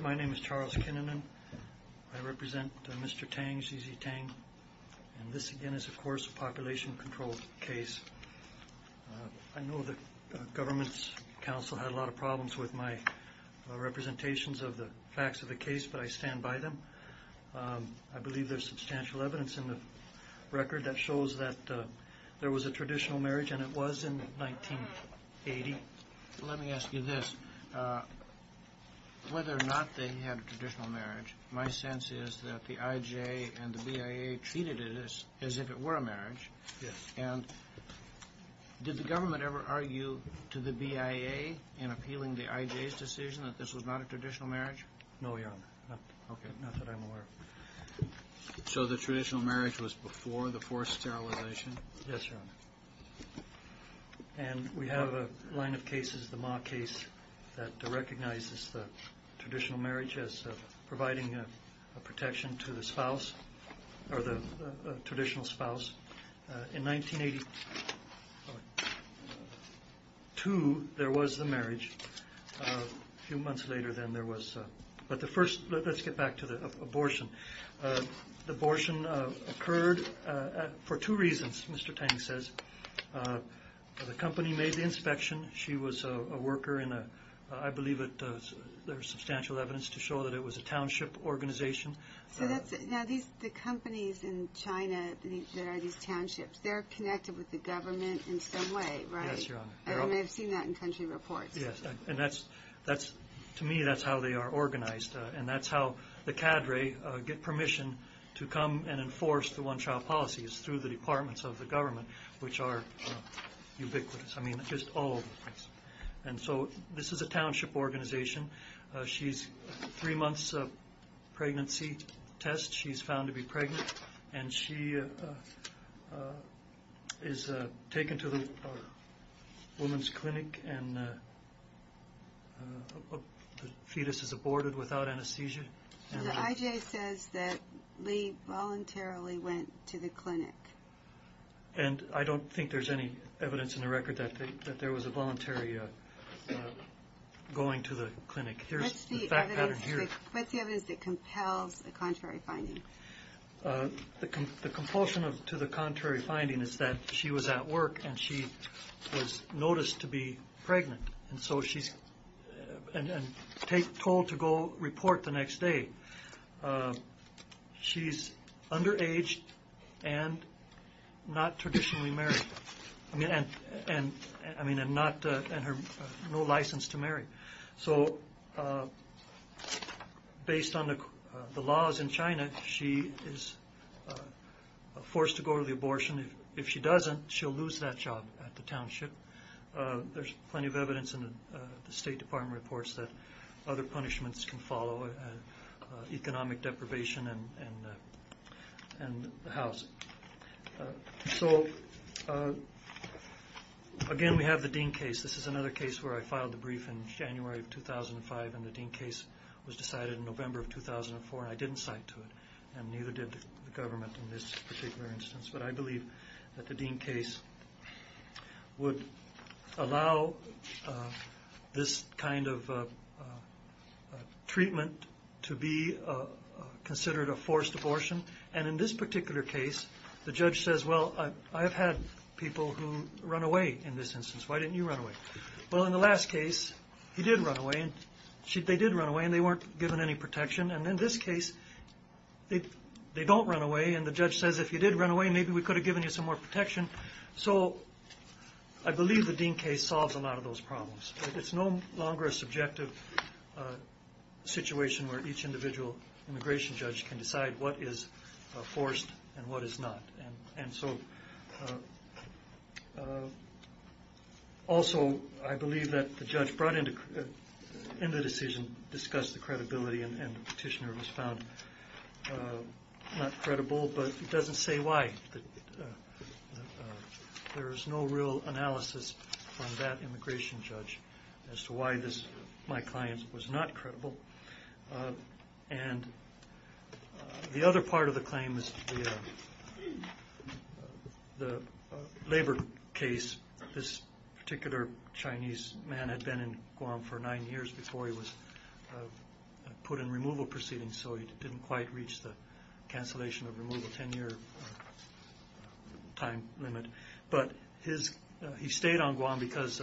My name is Charles Kinnunen. I represent Mr. Tang Zhizhi Tang. And this again is of course a population controlled case. I know the government's counsel had a lot of problems with my representations of the facts of the case, but I stand by them. I believe there's substantial evidence in the record that shows that there was a traditional marriage and it was in 1980. Let me ask you this. Whether or not they had a traditional marriage, my sense is that the I.J. and the B.I.A. treated it as if it were a marriage. And did the government ever argue to the B.I.A. in appealing the I.J.'s decision that this was not a traditional marriage? Mr. Tang No, Your Honor. Not that I'm aware of. Mr. Kennedy So the traditional marriage was before the forced sterilization? Mr. Tang Yes, Your Honor. And we have a line of cases, the Ma case, that recognizes the traditional marriage as providing a protection to the spouse, or the traditional spouse. In 1982 there was the marriage. A few months later then there was. But the first, let's get back to the abortion. The abortion occurred for two reasons, Mr. Tang says. The company made the inspection. She was a worker in a, I believe there's substantial evidence to show that it was a township organization. Ms. Kennedy So now the companies in China that are these townships, they're connected with the government in some way, right? Mr. Tang Yes, Your Honor. Ms. Kennedy And you may have seen that in country reports. Mr. Tang Yes. And to me that's how they are organized. And that's how the cadre get permission to come and enforce the one-child policies through the departments of the government, which are ubiquitous. I mean, just all over the place. And so this is a township organization. She's three months pregnancy test. She's found to be pregnant. And she is taken to the woman's clinic and the fetus is aborted without anesthesia. Ms. Kennedy So the IJ says that Lee voluntarily went to the clinic. Mr. Tang And I don't think there's any evidence in the record that there was a voluntary going to the clinic. Here's the fact pattern here. Ms. Kennedy What's the evidence that compels the contrary finding? Mr. Tang The compulsion to the contrary finding is that she was at work and she was noticed to be pregnant. And so she's told to go report the next day. She's underage and not traditionally married. I mean, and no license to marry. So based on the laws in China, she is forced to go to the abortion. If she doesn't, she'll lose that job at the township. There's plenty of evidence in the State Department reports that other punishments can follow, economic deprivation and the house. So again, we have the Dean case. This is another case where I filed the brief in January of 2005. And the Dean case was decided in November of 2004. I didn't cite to it and neither did the government in this particular instance. But I believe that the Dean case would allow this kind of treatment to be considered a forced abortion. And in this particular case, the judge says, well, I have had people who run away in this instance. Why didn't you run away? Well, in the last case, he did run away and they did run away. In this particular case, they don't run away. And the judge says, if you did run away, maybe we could have given you some more protection. So I believe the Dean case solves a lot of those problems. It's no longer a subjective situation where each individual immigration judge can decide what is forced and what is not. And so also, I believe that the judge brought in the decision, discussed the credibility, and the petitioner was found not credible. But it doesn't say why. There is no real analysis on that immigration judge as to why my client was not credible. And the other part of the claim is the labor case. This particular Chinese man had been in Guam for nine years before he was put in removal proceedings, so he didn't quite reach the cancellation of removal ten-year time limit. But he stayed on Guam because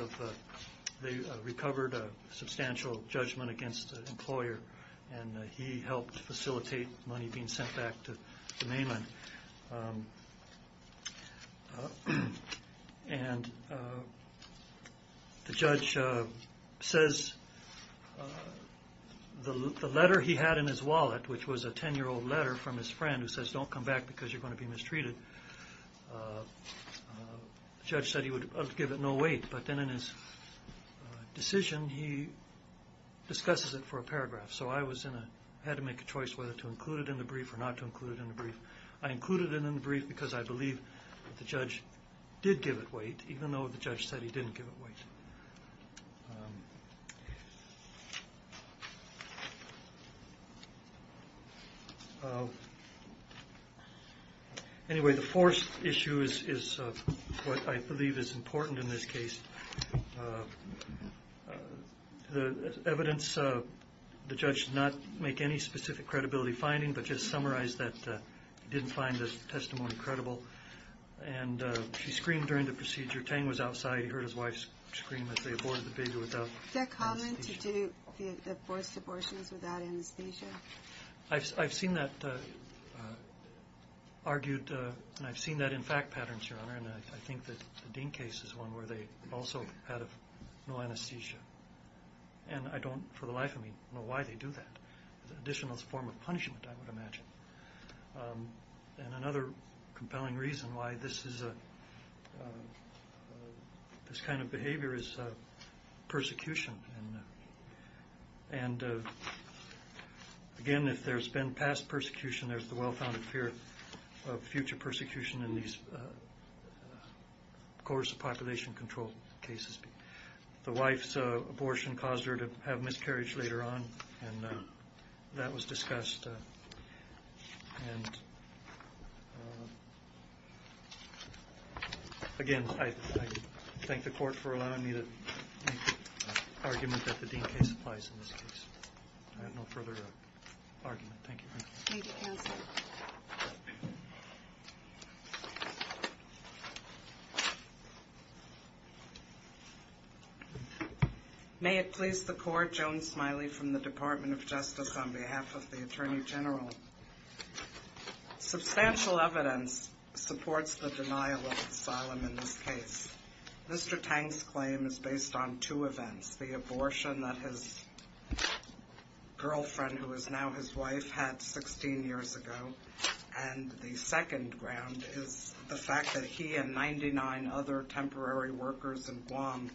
they recovered a substantial judgment against the employer and he helped facilitate money being sent back to the mainland. And the judge says, the letter he had in his wallet, which was a ten-year-old letter from his friend who says, don't come back because you're going to be mistreated. The judge said he would give it no weight, but then in his decision, he discusses it for a paragraph. So I had to make a choice whether to include it in the brief or not to include it in the brief. I included it in the brief because I believe the judge did give it weight, even though the judge said he didn't give it weight. Anyway, the fourth issue is what I believe is important in this case. The evidence, the judge did not make any specific credibility finding, but just summarized that he didn't find the testimony credible. And she screamed during the procedure, Tang was outside, he heard his wife scream as they aborted the baby without anesthesia. Is that common to do abortions without anesthesia? I've seen that argued, and I've seen that in fact patterns, Your Honor, and I think that the Dean case is one where they also had no anesthesia. And I don't, for the life of me, know why they do that. It's an additional form of punishment, I would imagine. And another kind of behavior is persecution. And again, if there's been past persecution, there's the well-founded fear of future persecution in these coerced population control cases. The wife's abortion caused her to have miscarriage later on, and that was discussed. And again, I thank the court for allowing me to make the argument that the Dean case applies in this case. I have no further argument. Thank you. Thank you, counsel. May it please the court, Joan Smiley from the Department of Justice, on behalf of the case. Mr. Tang's claim is based on two events, the abortion that his girlfriend, who is now his wife, had 16 years ago, and the second ground is the fact that he and 99 other temporary workers in Guam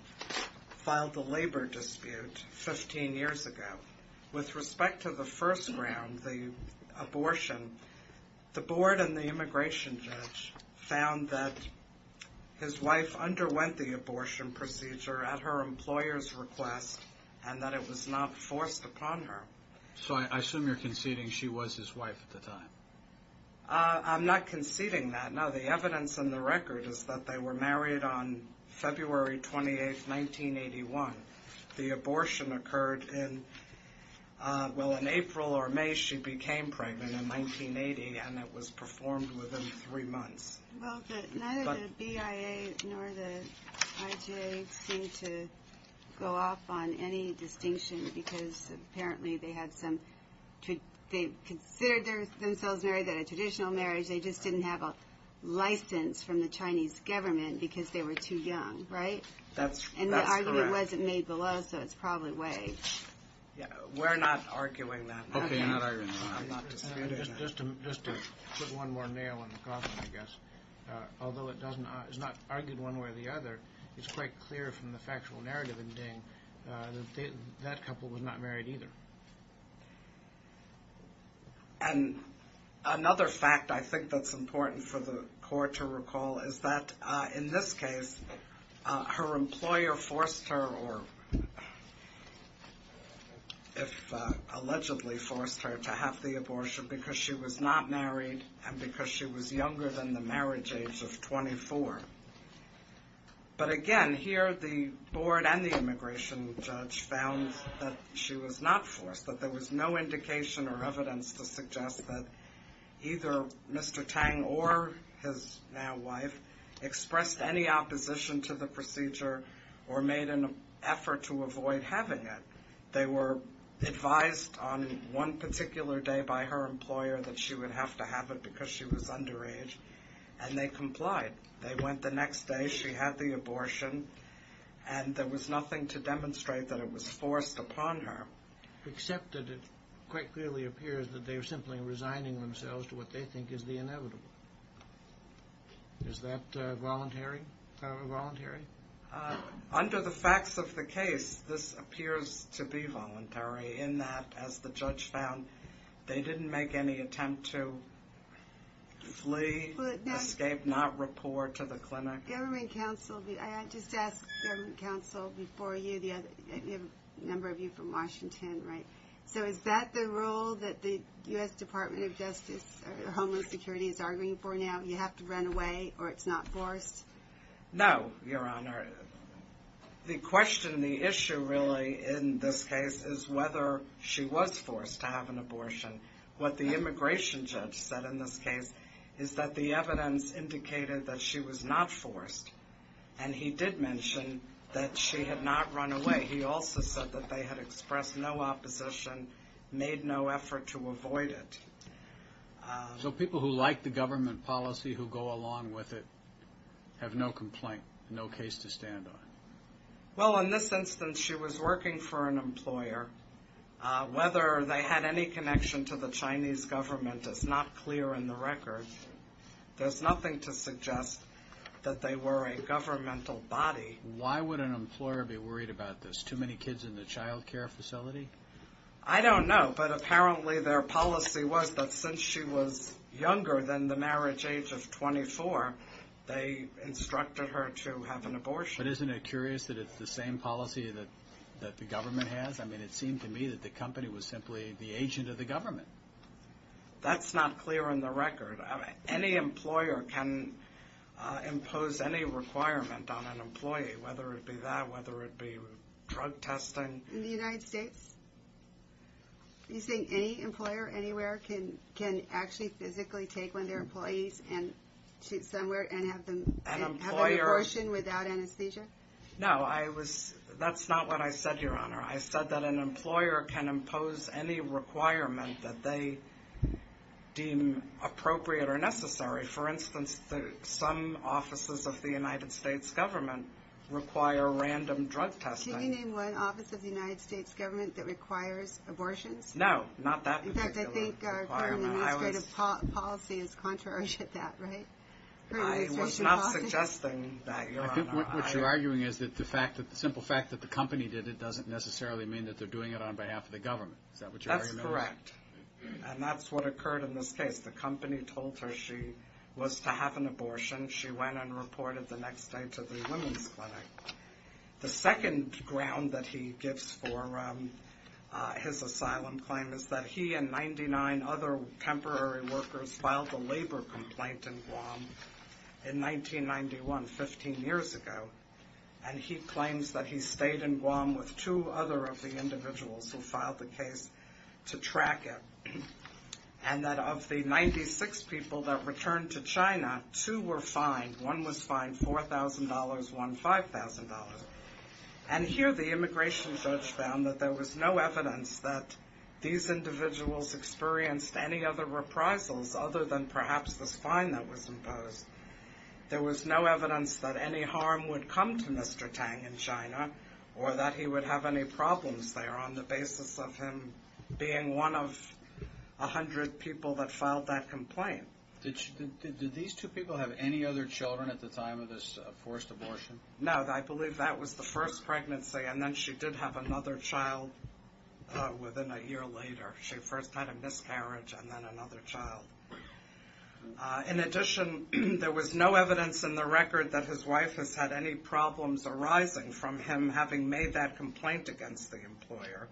filed the labor dispute 15 years ago. With respect to the first ground, the abortion, the board and the immigration judge found that his wife underwent the abortion procedure at her employer's request and that it was not forced upon her. So I assume you're conceding she was his wife at the time. I'm not conceding that. No, the evidence in the record is that they were married on February 28th, 1981. The abortion occurred in, well, in April or May she became pregnant in 1980, and it was performed within three months. Well, neither the BIA nor the IJ seem to go off on any distinction because apparently they had some, they considered themselves married at a traditional marriage, they just didn't have a license from the Chinese government because they were too young, right? That's correct. And the argument wasn't made below, so it's probably way. Yeah, we're not arguing that. Okay, not arguing that. I'm not disputing that. Just to put one more nail in the coffin, I guess, although it doesn't, it's not argued one way or the other, it's quite clear from the factual narrative in Ding that that couple was not married either. And another fact I think that's important for the court to recall is that in this case her employer forced her, or if allegedly forced her, to have the abortion because she was not married and because she was younger than the marriage age of 24. But again, here the board and the immigration judge found that she was not forced, that there was no indication or evidence to suggest that either Mr. Tang or his now wife expressed any opposition to the procedure or made an effort to avoid having it. They were advised on one particular day by her employer that she would have to have it because she was underage, and they complied. They went the next day, she had the abortion, and there was nothing to demonstrate that it was forced upon her. Except that it quite clearly appears that they were simply resigning themselves to what they think is the inevitable. Is that voluntary? Under the facts of the case, this appears to be voluntary in that, as the judge found, they didn't make any attempt to flee, escape, not report to the clinic. Government counsel, I just asked government counsel before you, a number of you from Washington, so is that the rule that the U.S. Department of Justice or Homeless Security is arguing for now? You have to run away or it's not forced? No, Your Honor. The question, the issue really in this case is whether she was forced to have an abortion. What the immigration judge said in this case is that the evidence indicated that she was not forced, and he did mention that she had not run away. He also said that they had expressed no opposition, made no effort to avoid it. So people who like the government policy, who go along with it, have no complaint, no case to stand on. Well, in this instance, she was working for an employer. Whether they had any connection to the Chinese government is not clear in the record. There's nothing to suggest that they were a governmental body. Why would an employer be worried about this? Too many kids in the child care facility? I don't know, but apparently their policy was that since she was younger than the marriage age of 24, they instructed her to have an abortion. But isn't it curious that it's the same policy that the government has? I mean, it seemed to me that the company was simply the agent of the government. That's not clear in the record. Any employer can impose any requirement on an employee, whether it be that, whether it be drug testing. In the United States? You're saying any employer anywhere can actually physically take one of their employees and shoot somewhere and have an abortion without anesthesia? No, that's not what I said, Your Honor. I said that an employer can impose any requirement that they deem appropriate or necessary. For instance, some offices of the United States government require random drug testing. Can you name one office of the United States government that requires abortions? No, not that particular requirement. In fact, I think the administrative policy is contrary to that, right? I was not suggesting that, Your Honor. I think what you're arguing is that the simple fact that the company did it doesn't necessarily mean that they're doing it on behalf of the government. Is that what you're arguing? That's correct. And that's what occurred in this case. The company told her she was to have an abortion. She went and reported the next day to the women's clinic. The second ground that he gives for his asylum claim is that he and 99 other temporary workers filed a labor complaint in Guam in 1991, 15 years ago. And he claims that he stayed in Guam with two other of the individuals who filed the case to track it. And that of the 96 people that returned to China, two were fined. One was fined $4,000, one $5,000. And here the immigration judge found that there was no evidence that these individuals experienced any other reprisals other than perhaps this fine that was imposed. There was no evidence that any harm would come to Mr. Tang in China or that he would have any problems there on the basis of him being one of a hundred people that filed that complaint. Did these two people have any other children at the time of this forced abortion? No, I believe that was the first pregnancy. And then she did have another child within a year later. She first had a miscarriage and then another child. In addition, there was no evidence in the record that his wife has had any problems arising from him having made that complaint against the employer.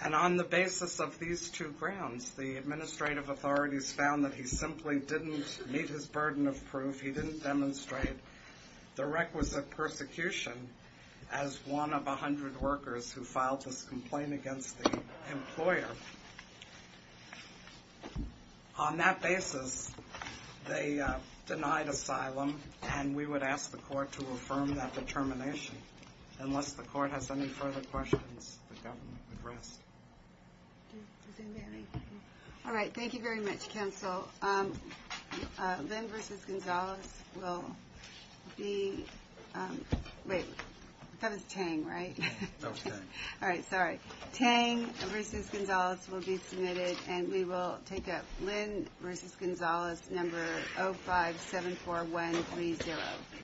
And on the basis of these two grounds, the administrative authorities found that he simply didn't meet his burden of proof. He didn't demonstrate the requisite persecution as one of a hundred workers who filed this complaint against the employer. On that basis, they denied asylum and we would ask the court to affirm that determination Unless the court has any further questions, the government would rest. All right, thank you very much, counsel. Lynn v. Gonzales will be... Wait, that was Tang, right? No, Tang. All right, sorry. Tang v. Gonzales will be submitted and we will take up Lynn v. Gonzales number 0574130.